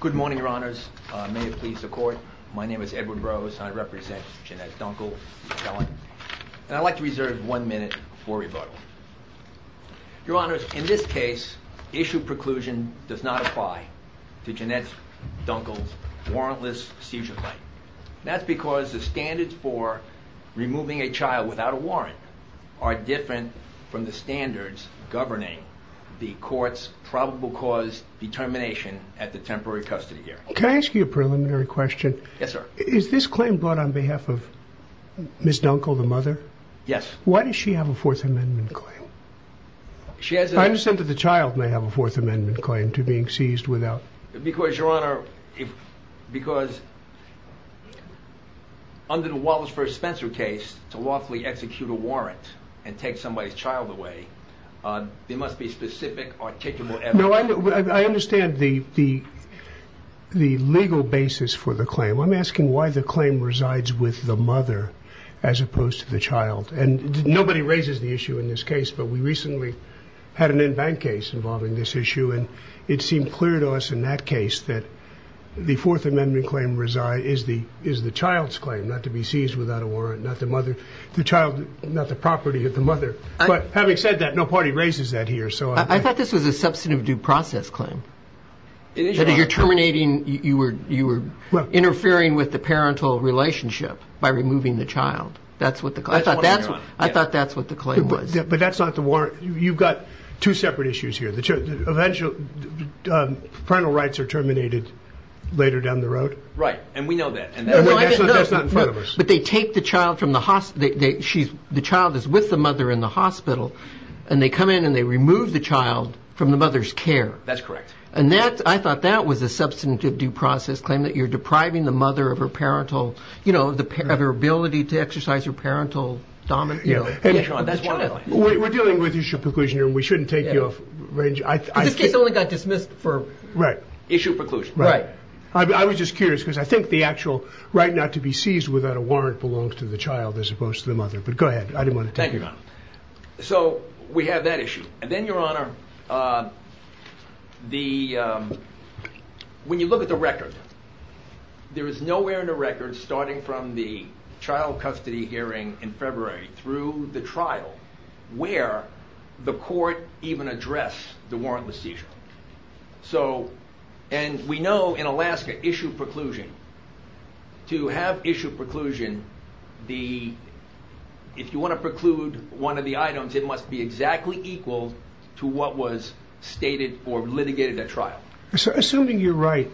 Good morning, your honors. May it please the court. My name is Edward Rose. I represent Jennette Dunkle. I'd like to reserve one minute for rebuttal. Your honors, in this case, issue preclusion does not apply to Jennette Dunkle's warrantless seizure claim. That's because the standards for removing a child without a warrant are different from the standards governing the court's probable cause determination at the temporary custody hearing. Can I ask you a preliminary question? Yes, sir. Is this claim brought on behalf of Ms. Dunkle, the mother? Yes. Why does she have a Fourth Amendment claim? I understand that the child may have a Fourth Amendment claim to being seized without... Because, your honor, because under the Wallace v. Spencer case, to lawfully execute a warrant and take somebody's child away, there must be specific articulable evidence. No, I understand the legal basis for the claim. I'm asking why the claim resides with the mother as opposed to the child. And nobody raises the issue in this case, but we recently had an in-bank case involving this issue, and it seemed clear to us in that case that the Fourth Amendment claim is the child's claim, not to be seized without a warrant, not the mother, the child, not the property of the mother. But having said that, no party raises that here. I thought this was a substantive due process claim. You're terminating... You were interfering with the parental relationship by removing the child. That's what the claim... I thought that's what the claim was. But that's not the warrant. You've got two separate issues here. The parental rights are terminated later down the road. Right. And we know that. That's not in front of us. But they take the child from the hospital. The child is with the mother in the hospital, and they come in and they remove the child from the mother's care. That's correct. And I thought that was a substantive due process claim, that you're depriving the mother of her ability to exercise her parental dominance. We're dealing with issue preclusion here, and we shouldn't take you off range. This case only got dismissed for issue preclusion. Right. I was just curious, because I think the actual right not to be seized without a warrant belongs to the child as opposed to the mother. But go ahead. I didn't want to take you off. Thank you, Your Honor. So we have that issue. And then, Your Honor, when you look at the record, there is nowhere in the record, starting from the child custody hearing in February through the trial, where the court even addressed the warrantless seizure. So, and we know in Alaska, issue preclusion, to have issue preclusion, the, if you want to preclude one of the items, it must be exactly equal to what was stated or litigated at trial. Assuming you're right,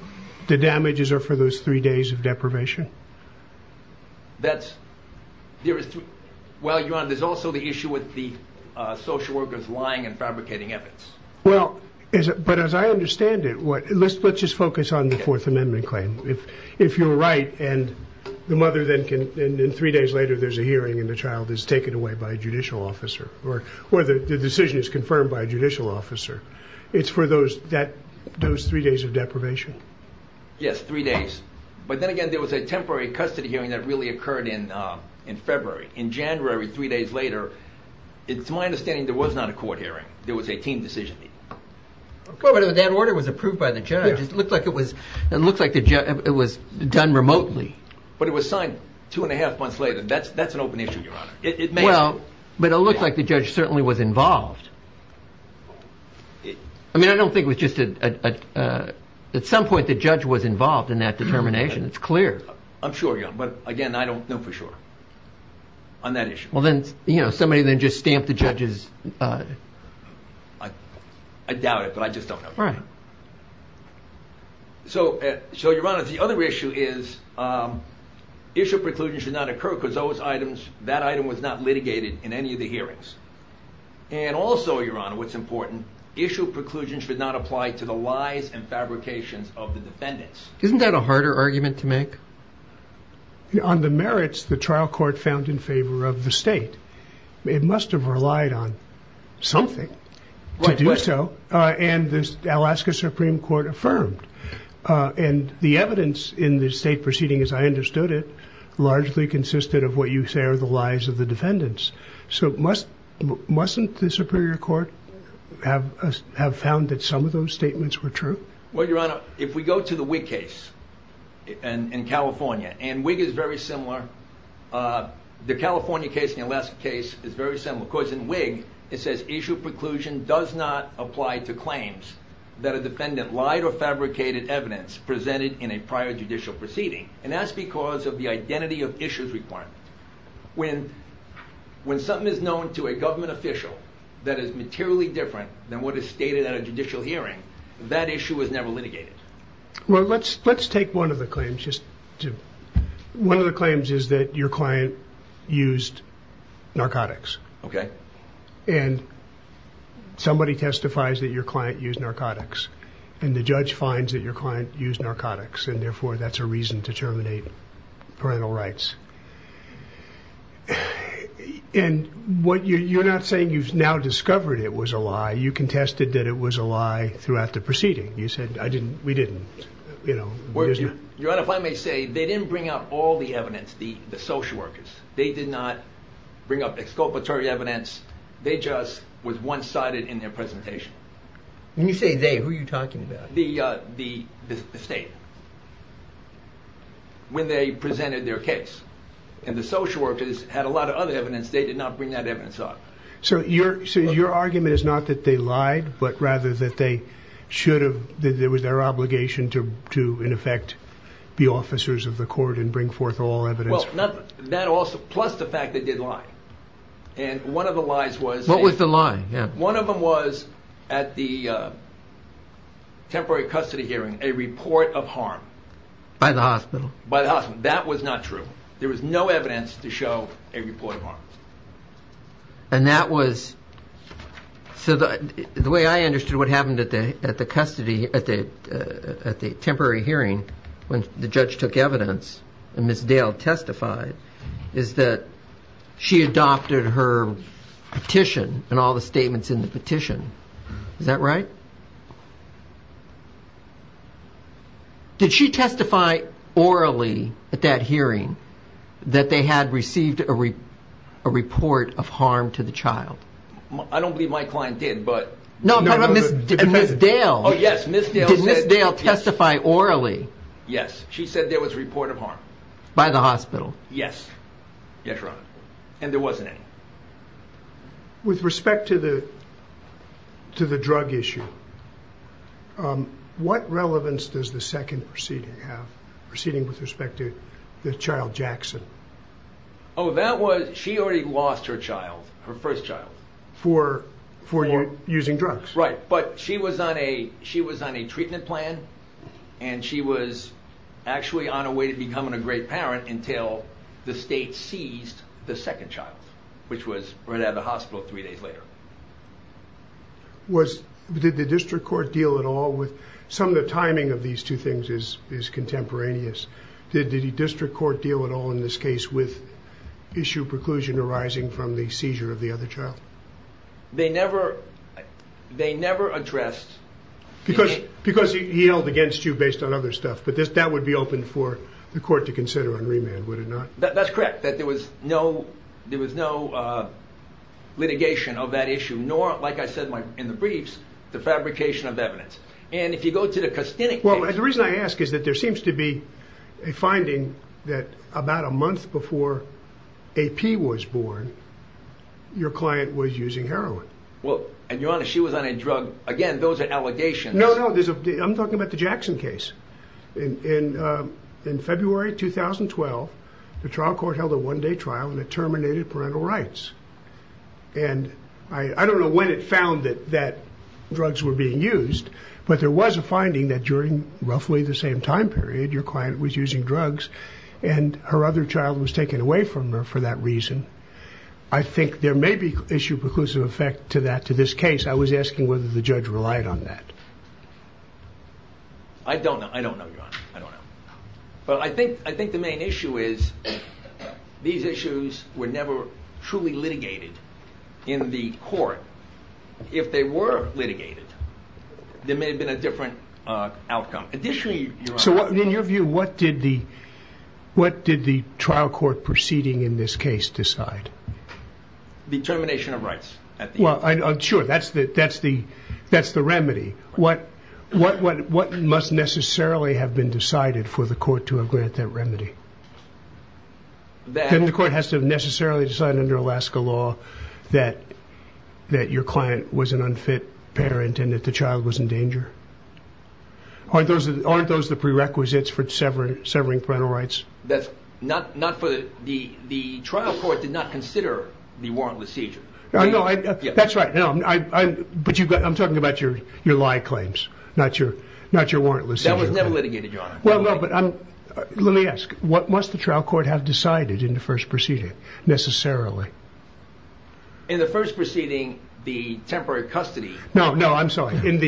the damages are for those three days of deprivation? That's, there is, well, Your Honor, there's also the issue with the social workers lying and Well, but as I understand it, let's just focus on the Fourth Amendment claim. If you're right, and the mother then can, and then three days later there's a hearing and the child is taken away by a judicial officer, or the decision is confirmed by a judicial officer, it's for those three days of deprivation. Yes, three days. But then again, there was a temporary custody hearing that really occurred in February. In January, three days later, it's my understanding there was not a court hearing. There was a team decision meeting. Well, but that order was approved by the judge. It looked like it was done remotely. But it was signed two and a half months later. That's an open issue, Your Honor. Well, but it looked like the judge certainly was involved. I mean, I don't think it was just a, at some point the judge was involved in that determination. It's clear. I'm sure, yeah, but again, I don't know for sure on that issue. Well then, you know, somebody then just stamped the judge's... I doubt it, but I just don't know. Right. So Your Honor, the other issue is issue preclusion should not occur because those items, that item was not litigated in any of the hearings. And also, Your Honor, what's important, issue preclusion should not apply to the lies and fabrications of the defendants. Isn't that a harder argument to make? On the merits, the trial court found in favor of the state. It must've relied on something to do so. And the Alaska Supreme Court affirmed. And the evidence in the state proceeding, as I understood it, largely consisted of what you say are the lies of the defendants. So mustn't the Superior Court have found that some of those statements were true? Well, Your Honor, if we go to the Whig case in California, and Whig is very similar. Of course, in Whig, it says issue preclusion does not apply to claims that a defendant lied or fabricated evidence presented in a prior judicial proceeding. And that's because of the identity of issues requirement. When something is known to a government official that is materially different than what is stated at a judicial hearing, that issue was never litigated. Well, let's take one of the claims just to... One of the claims is that your client used narcotics. Okay. And somebody testifies that your client used narcotics, and the judge finds that your client used narcotics, and therefore, that's a reason to terminate parental rights. And you're not saying you've now discovered it was a lie. You contested that it was a lie throughout the proceeding. You said, we didn't. Your Honor, if I may say, they didn't bring out all the evidence, the social workers. They did not bring up exculpatory evidence. They just was one-sided in their presentation. When you say they, who are you talking about? The state. When they presented their case, and the social workers had a lot of other evidence, they did not bring that evidence up. So your argument is not that they lied, but rather that should have... That it was their obligation to, in effect, be officers of the court and bring forth all evidence. Well, that also... Plus the fact they did lie. And one of the lies was... What was the lie? One of them was at the temporary custody hearing, a report of harm. By the hospital. By the hospital. That was not true. There was no evidence to show a report of harm. And that was... So the way I understood what happened at the custody... At the temporary hearing, when the judge took evidence, and Ms. Dale testified, is that she adopted her petition and all the statements in the petition. Is that right? Did she testify orally at that hearing that they had received a report of harm to the child? I don't believe my client did, but... No, but Ms. Dale... Oh, yes, Ms. Dale said... Did Ms. Dale testify orally? Yes, she said there was a report of harm. By the hospital? Yes. Yes, Your Honor. And there wasn't any. Okay. With respect to the drug issue, what relevance does the second proceeding have, proceeding with respect to the child, Jackson? Oh, that was... She already lost her child, her first child. For using drugs? Right, but she was on a treatment plan, and she was actually on her way to becoming a great parent until the state seized the second child, which was right out of the hospital three days later. Did the district court deal at all with... Some of the timing of these two things is contemporaneous. Did the district court deal at all in this case with issue preclusion arising from the seizure of the other child? They never addressed... Because he held against you based on other stuff, but that would be open for the court to consider on remand, would it not? That's correct, that there was no litigation of that issue, nor, like I said in the briefs, the fabrication of evidence. And if you go to the costinic case... Well, the reason I ask is that there seems to be a finding that about a month before AP was born, your client was using heroin. Well, and Your Honor, she was on a drug... Again, those are allegations. No, no, I'm talking about the Jackson case. In February 2012, the trial court held a one day trial and it terminated parental rights. And I don't know when it found that drugs were being used, but there was a finding that during roughly the same time period, your client was using drugs and her other child was taken away from her for that reason. I think there may be issue preclusive effect to this case. I was asking whether the judge relied on that. I don't know, Your Honor. But I think the main issue is these issues were never truly litigated in the court. If they were litigated, there may have been a different outcome. Additionally, Your Honor... So in your view, what did the trial court proceeding in this case decide? The termination of rights. Well, sure. That's the remedy. What must necessarily have been decided for the court to grant that remedy? The court has to necessarily decide under Alaska law that your client was an unfit parent and that the child was in danger? Aren't those the prerequisites for severing parental rights? That's not for... The trial court did not consider the warrantless seizure. That's right. But I'm talking about your lie claims, not your warrantless seizure. That was never litigated, Your Honor. Let me ask, what must the trial court have decided in the first proceeding necessarily? In the first proceeding, the temporary custody... I'm sorry. In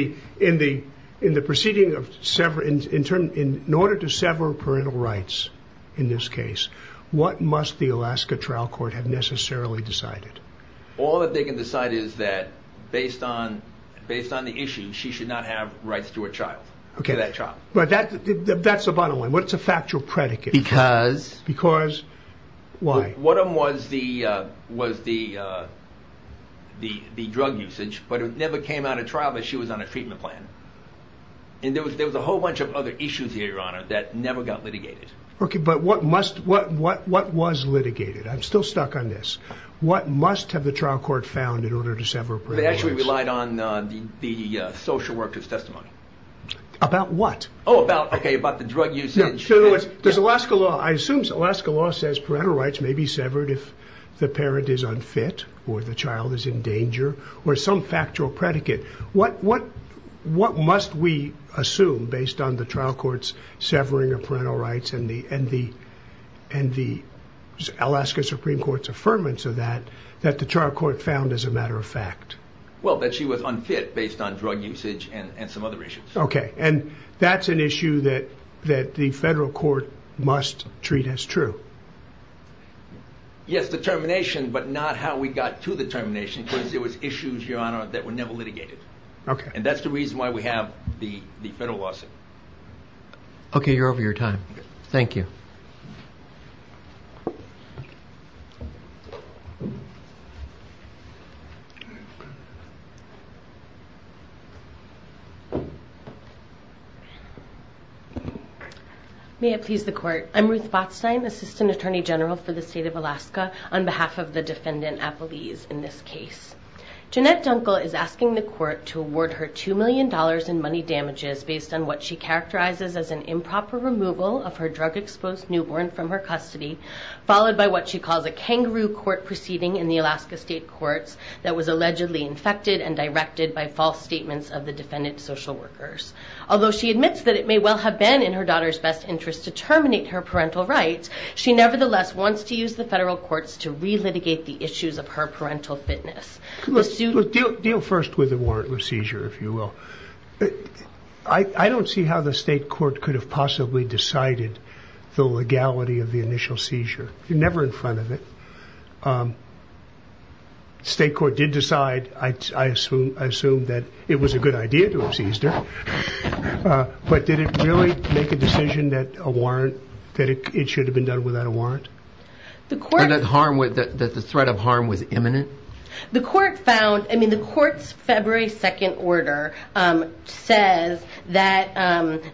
the proceeding, in order to sever parental rights in this case, what must the Alaska trial court have necessarily decided? All that they can decide is that based on the issue, she should not have rights to her child. That's the bottom line. What's the factual predicate? Because... Because why? One of them was the drug usage, but it never came out of trial, but she was on a treatment plan. And there was a whole bunch of other issues here, Your Honor, that never got litigated. Okay. But what must... What was litigated? I'm still stuck on this. What must have the trial court found in order to sever parental rights? They actually relied on the social worker's testimony. About what? Oh, about... Okay. About the drug usage. Does Alaska law... I assume Alaska law says parental rights may be severed if the parent is unfit, or the child is in danger, or some factual predicate. What must we assume based on the trial court's severing of parental rights and the Alaska Supreme Court's affirmance of that, that the trial court found as a matter of fact? Well, that she was unfit based on drug usage and some other issues. Okay. And that's an issue that the federal court must treat as true. Yes, the termination, but not how we got to the termination, because there was issues, Your Honor, that were never litigated. Okay. And that's the reason why we have the federal lawsuit. Okay. You're over your time. Thank you. May it please the court. I'm Ruth Botstein, Assistant Attorney General for the State of Alaska, on behalf of the defendant, Apolise, in this case. Jeanette Dunkel is asking the court to award her $2 million in money damages based on what she characterizes as an improper removal of her drug exposed newborn from her custody, followed by what she calls a kangaroo court proceeding in the Alaska State Courts that allegedly infected and directed by false statements of the defendant's social workers. Although she admits that it may well have been in her daughter's best interest to terminate her parental rights, she nevertheless wants to use the federal courts to relitigate the issues of her parental fitness. Deal first with a warrantless seizure, if you will. I don't see how the state court could have possibly decided the legality of the initial seizure. You're never in front of it. The state court did decide, I assume that it was a good idea to have seized her. But did it really make a decision that it should have been done without a warrant? That the threat of harm was imminent? The court found, I mean, the court's February 2nd order says that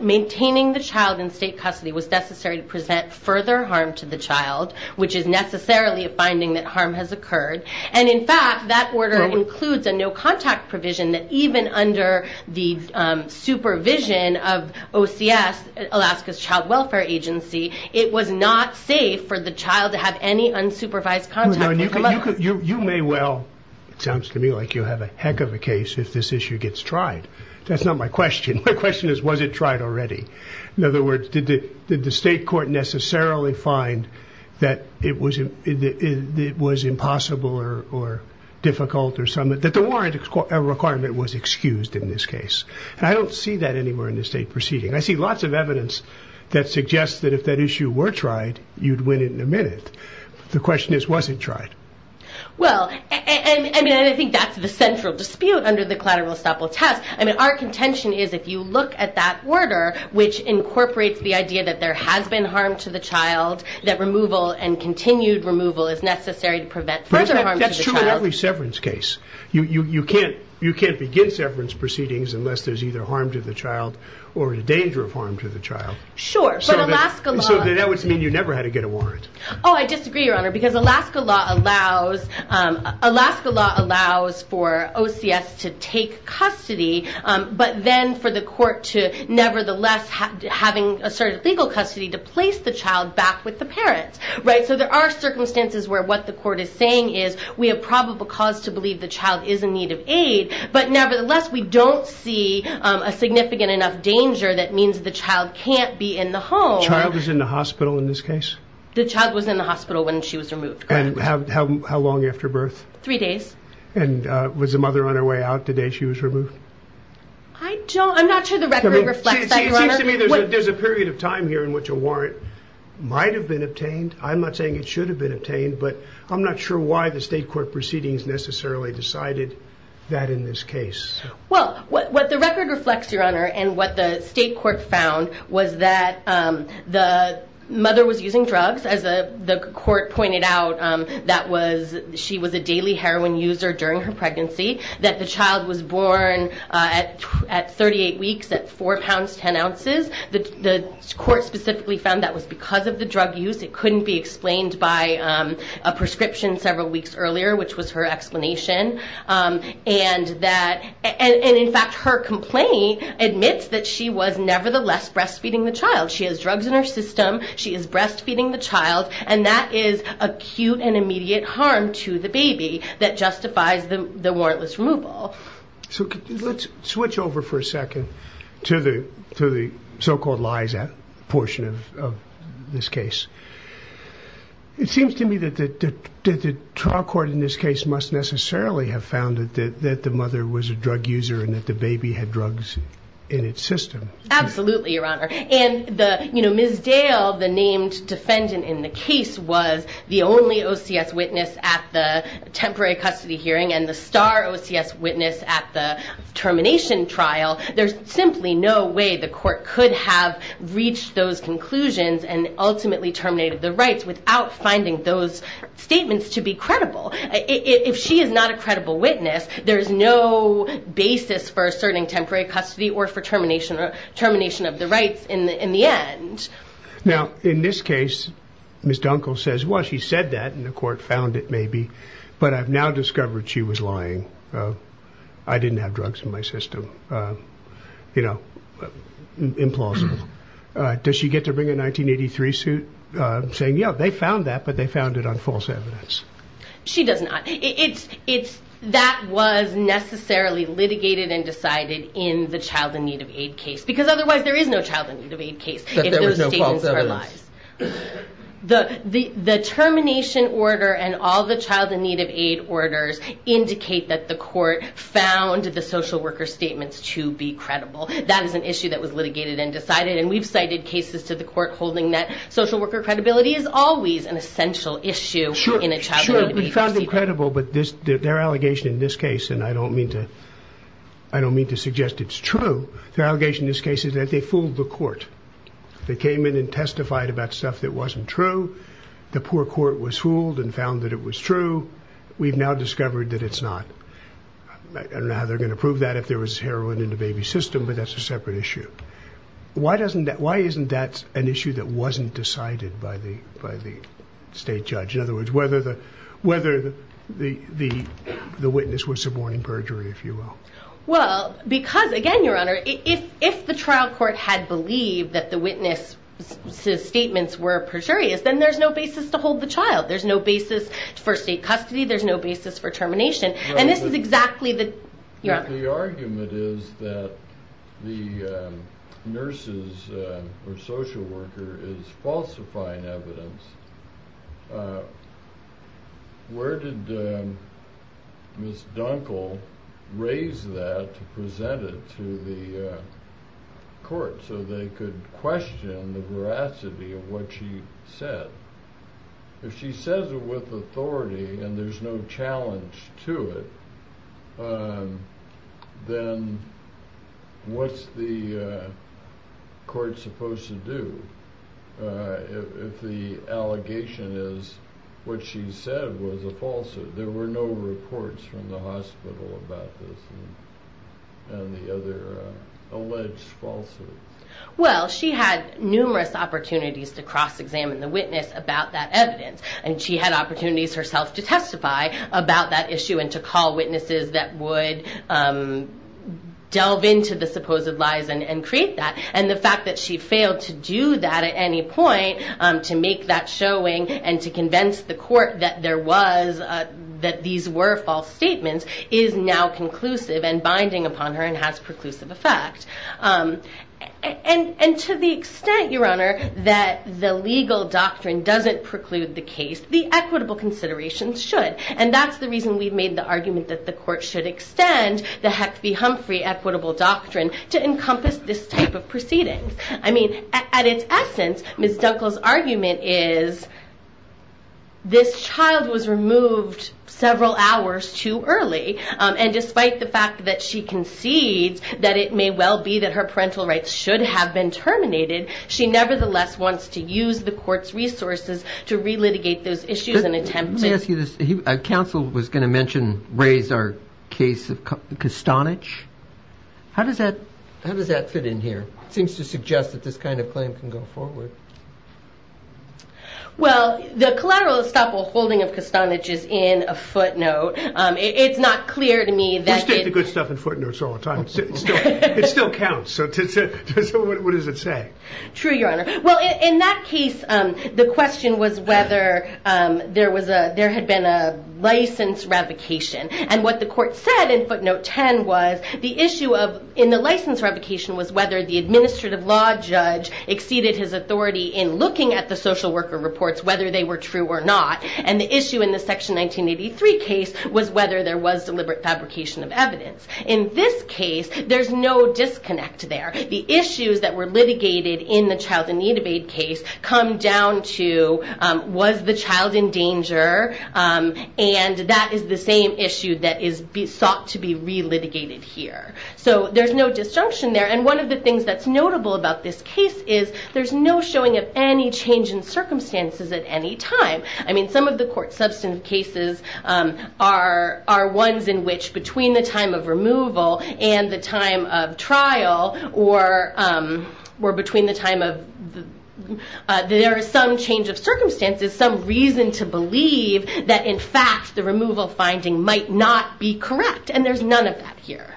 maintaining the child in custody was necessary to present further harm to the child, which is necessarily a finding that harm has occurred. And in fact, that order includes a no contact provision that even under the supervision of OCS, Alaska's Child Welfare Agency, it was not safe for the child to have any unsupervised contact. You may well, it sounds to me like you have a heck of a case if this issue gets tried. That's not my question. My question is, was it tried already? In other words, did the state court necessarily find that it was impossible or difficult or something, that the warrant requirement was excused in this case? I don't see that anywhere in the state proceeding. I see lots of evidence that suggests that if that issue were tried, you'd win it in a minute. The question is, was it tried? Well, I mean, I think that's the central dispute under the collateral estoppel test. Our contention is, if you look at that order, which incorporates the idea that there has been harm to the child, that removal and continued removal is necessary to prevent further harm. That's true in every severance case. You can't begin severance proceedings unless there's either harm to the child or the danger of harm to the child. Sure, but Alaska law... I disagree, Your Honor, because Alaska law allows for OCS to take custody, but then for the court to nevertheless having asserted legal custody to place the child back with the parents. So there are circumstances where what the court is saying is, we have probable cause to believe the child is in need of aid, but nevertheless, we don't see a significant enough danger that means the child can't be in the home. The child is in the hospital in this case? The child was in the hospital when she was removed. And how long after birth? Three days. And was the mother on her way out the day she was removed? I don't... I'm not sure the record reflects that, Your Honor. There's a period of time here in which a warrant might have been obtained. I'm not saying it should have been obtained, but I'm not sure why the state court proceedings necessarily decided that in this case. Well, what the record reflects, Your Honor, and what the state court found was that the mother was using drugs. As the court pointed out, she was a daily heroin user during her pregnancy, that the child was born at 38 weeks at four pounds, 10 ounces. The court specifically found that was because of the drug use. It couldn't be explained by a prescription several weeks earlier, which was her explanation. And in fact, her complaint admits that she was nevertheless breastfeeding the child. She has drugs in her system. She is breastfeeding the child. And that is acute and immediate harm to the baby that justifies the warrantless removal. So let's switch over for a second to the so-called lies portion of this case. It seems to me that the trial court in this case must necessarily have found that the mother was a drug user and that the baby had drugs in its system. Absolutely, Your Honor. And Ms. Dale, the named defendant in the case, was the only OCS witness at the temporary custody hearing and the star OCS witness at the termination trial. There's simply no way the court could have reached those conclusions and ultimately terminated the rights without finding those statements to be credible. If she is not a credible witness, there's no basis for asserting temporary custody or for termination of the rights in the end. Now, in this case, Ms. Dunkel says, well, she said that and the court found it maybe, but I've now discovered she was lying. I didn't have drugs in my system. You know, implausible. Does she get to bring a 1983 suit saying, yeah, they found that, they found it on false evidence? She does not. That was necessarily litigated and decided in the child in need of aid case, because otherwise there is no child in need of aid case if those statements are lies. The termination order and all the child in need of aid orders indicate that the court found the social worker statements to be credible. That is an issue that was litigated and decided. And we've cited cases to the court holding that social worker credibility is always an essential issue in a child in need of aid case. Sure, we found them credible, but their allegation in this case, and I don't mean to suggest it's true, their allegation in this case is that they fooled the court. They came in and testified about stuff that wasn't true. The poor court was fooled and found that it was true. We've now discovered that it's not. I don't know how they're going to prove that if there was heroin in the baby's system, but that's a separate issue. Why isn't that an issue that wasn't decided by the state judge? In other words, whether the witness was suborning perjury, if you will. Well, because again, Your Honor, if the trial court had believed that the witness' statements were perjurious, then there's no basis to hold the child. There's no basis for state custody. There's no basis for termination. And this is exactly the... nurses or social worker is falsifying evidence. Where did Ms. Dunkle raise that to present it to the court so they could question the veracity of what she said? If she says it with authority and there's no challenge to it, then what's the court supposed to do if the allegation is what she said was a falsehood? There were no reports from the hospital about this and the other alleged falsehoods. Well, she had numerous opportunities to cross-examine the witness about that evidence, and she had opportunities herself to testify about that issue and to call witnesses that would delve into the supposed lies and create that. And the fact that she failed to do that at any point, to make that showing and to convince the court that there was... that these were false statements is now conclusive and binding upon her and has preclusive effect. And to the extent, Your Honor, that the legal doctrine doesn't preclude the case, the equitable considerations should. And that's the reason we've made the argument that the court should extend the Hecht v. Humphrey equitable doctrine to encompass this type of proceedings. I mean, at its essence, Ms. Dunkle's argument is this child was removed several hours too early, and despite the fact that she concedes that it may well be that her parental rights should have been terminated, she nevertheless wants to use the court's resources to relitigate those issues and attempt to... Let me ask you this. Counsel was going to mention, raise our case of Kastanich. How does that... how does that fit in here? It seems to suggest that this kind of claim can go forward. Well, the collateral estoppel holding of Kastanich is in a footnote. It's not clear to me that... We stick to good stuff in footnotes all the time. It still counts. So what does it say? True, Your Honor. Well, in that case, the question was whether there was a... there had been a license revocation. And what the court said in footnote 10 was the issue of... in the license revocation was whether the administrative law judge exceeded his authority in looking at the social worker reports, whether they were true or not. And the issue in the section 1983 case was whether there was deliberate fabrication of evidence. In this case, there's no disconnect there. The issues that were litigated in the child in need of aid case come down to, was the child in danger? And that is the same issue that is sought to be relitigated here. So there's no disjunction there. And one of the things that's notable about this case is there's no showing of any change in circumstances at any time. I mean, some of the court substantive cases are ones in which between the time of removal and the time of trial, or between the time of... there is some change of circumstances, some reason to believe that in fact, the removal finding might not be correct. And there's none of that here.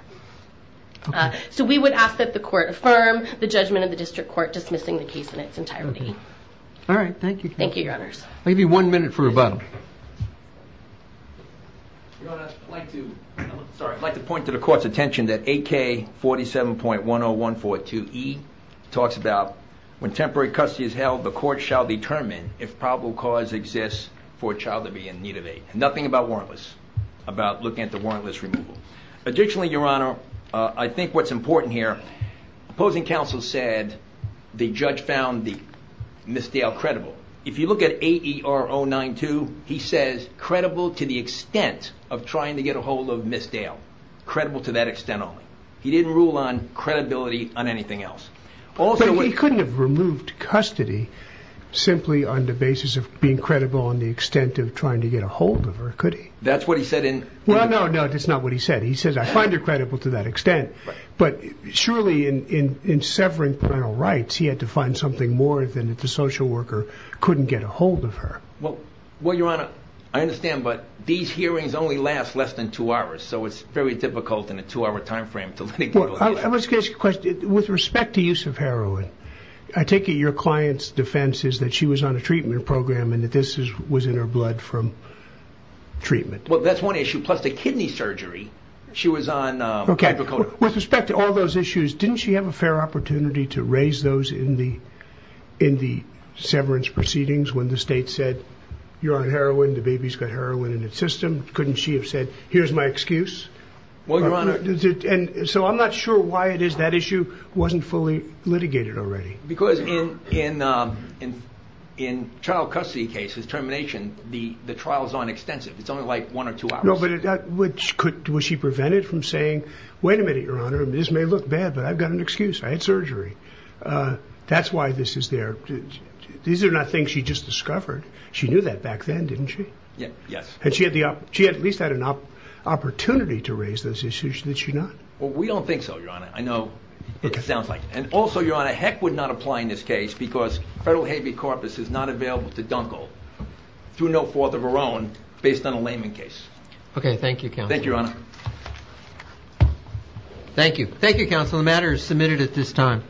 So we would ask that the court affirm the judgment of the district court dismissing the case in its entirety. All right. Thank you. Thank you, Your Honors. Maybe one minute for rebuttal. Your Honor, I'd like to point to the court's attention that AK47.10142E talks about, when temporary custody is held, the court shall determine if probable cause exists for a child to be in need of aid. Nothing about warrantless, about looking at the warrantless removal. Additionally, Your Honor, I think what's important here, opposing counsel said the judge found the misdale credible. If you look at AER092, he says, credible to the extent of trying to get a hold of misdale, credible to that extent only. He didn't rule on credibility on anything else. But he couldn't have removed custody simply on the basis of being credible on the extent of trying to get a hold of her, could he? That's what he said in... Well, no, no, that's not what he said. He says, I find her credible to that extent. But surely in severing parental rights, he had to find something more than if the social worker couldn't get a hold of her. Well, Your Honor, I understand, but these hearings only last less than two hours. So it's very difficult in a two-hour timeframe to let people... I was going to ask you a question. With respect to use of heroin, I take it your client's defense is that she was on a treatment program and that this was in her blood from treatment. Well, that's one issue. Plus the kidney surgery, she was on... With respect to all those issues, didn't she have a fair opportunity to raise those in the severance proceedings when the state said, you're on heroin, the baby's got heroin in its system? Couldn't she have said, here's my excuse? So I'm not sure why it is that issue wasn't fully litigated already. Because in child custody cases, termination, the trials aren't extensive. It's only like one or two hours. Which could... Was she prevented from saying, wait a minute, Your Honor, this may look bad, but I've got an excuse. I had surgery. That's why this is there. These are not things she just discovered. She knew that back then, didn't she? Yeah. Yes. Had she at least had an opportunity to raise those issues? Did she not? Well, we don't think so, Your Honor. I know it sounds like... And also, Your Honor, heck would not apply in this case because federal habe corpus is not available to dunkel through no fault of her own based on a layman case. Okay. Thank you, counsel. Thank you, Your Honor. Thank you. Thank you, counsel. The matter is submitted at this time.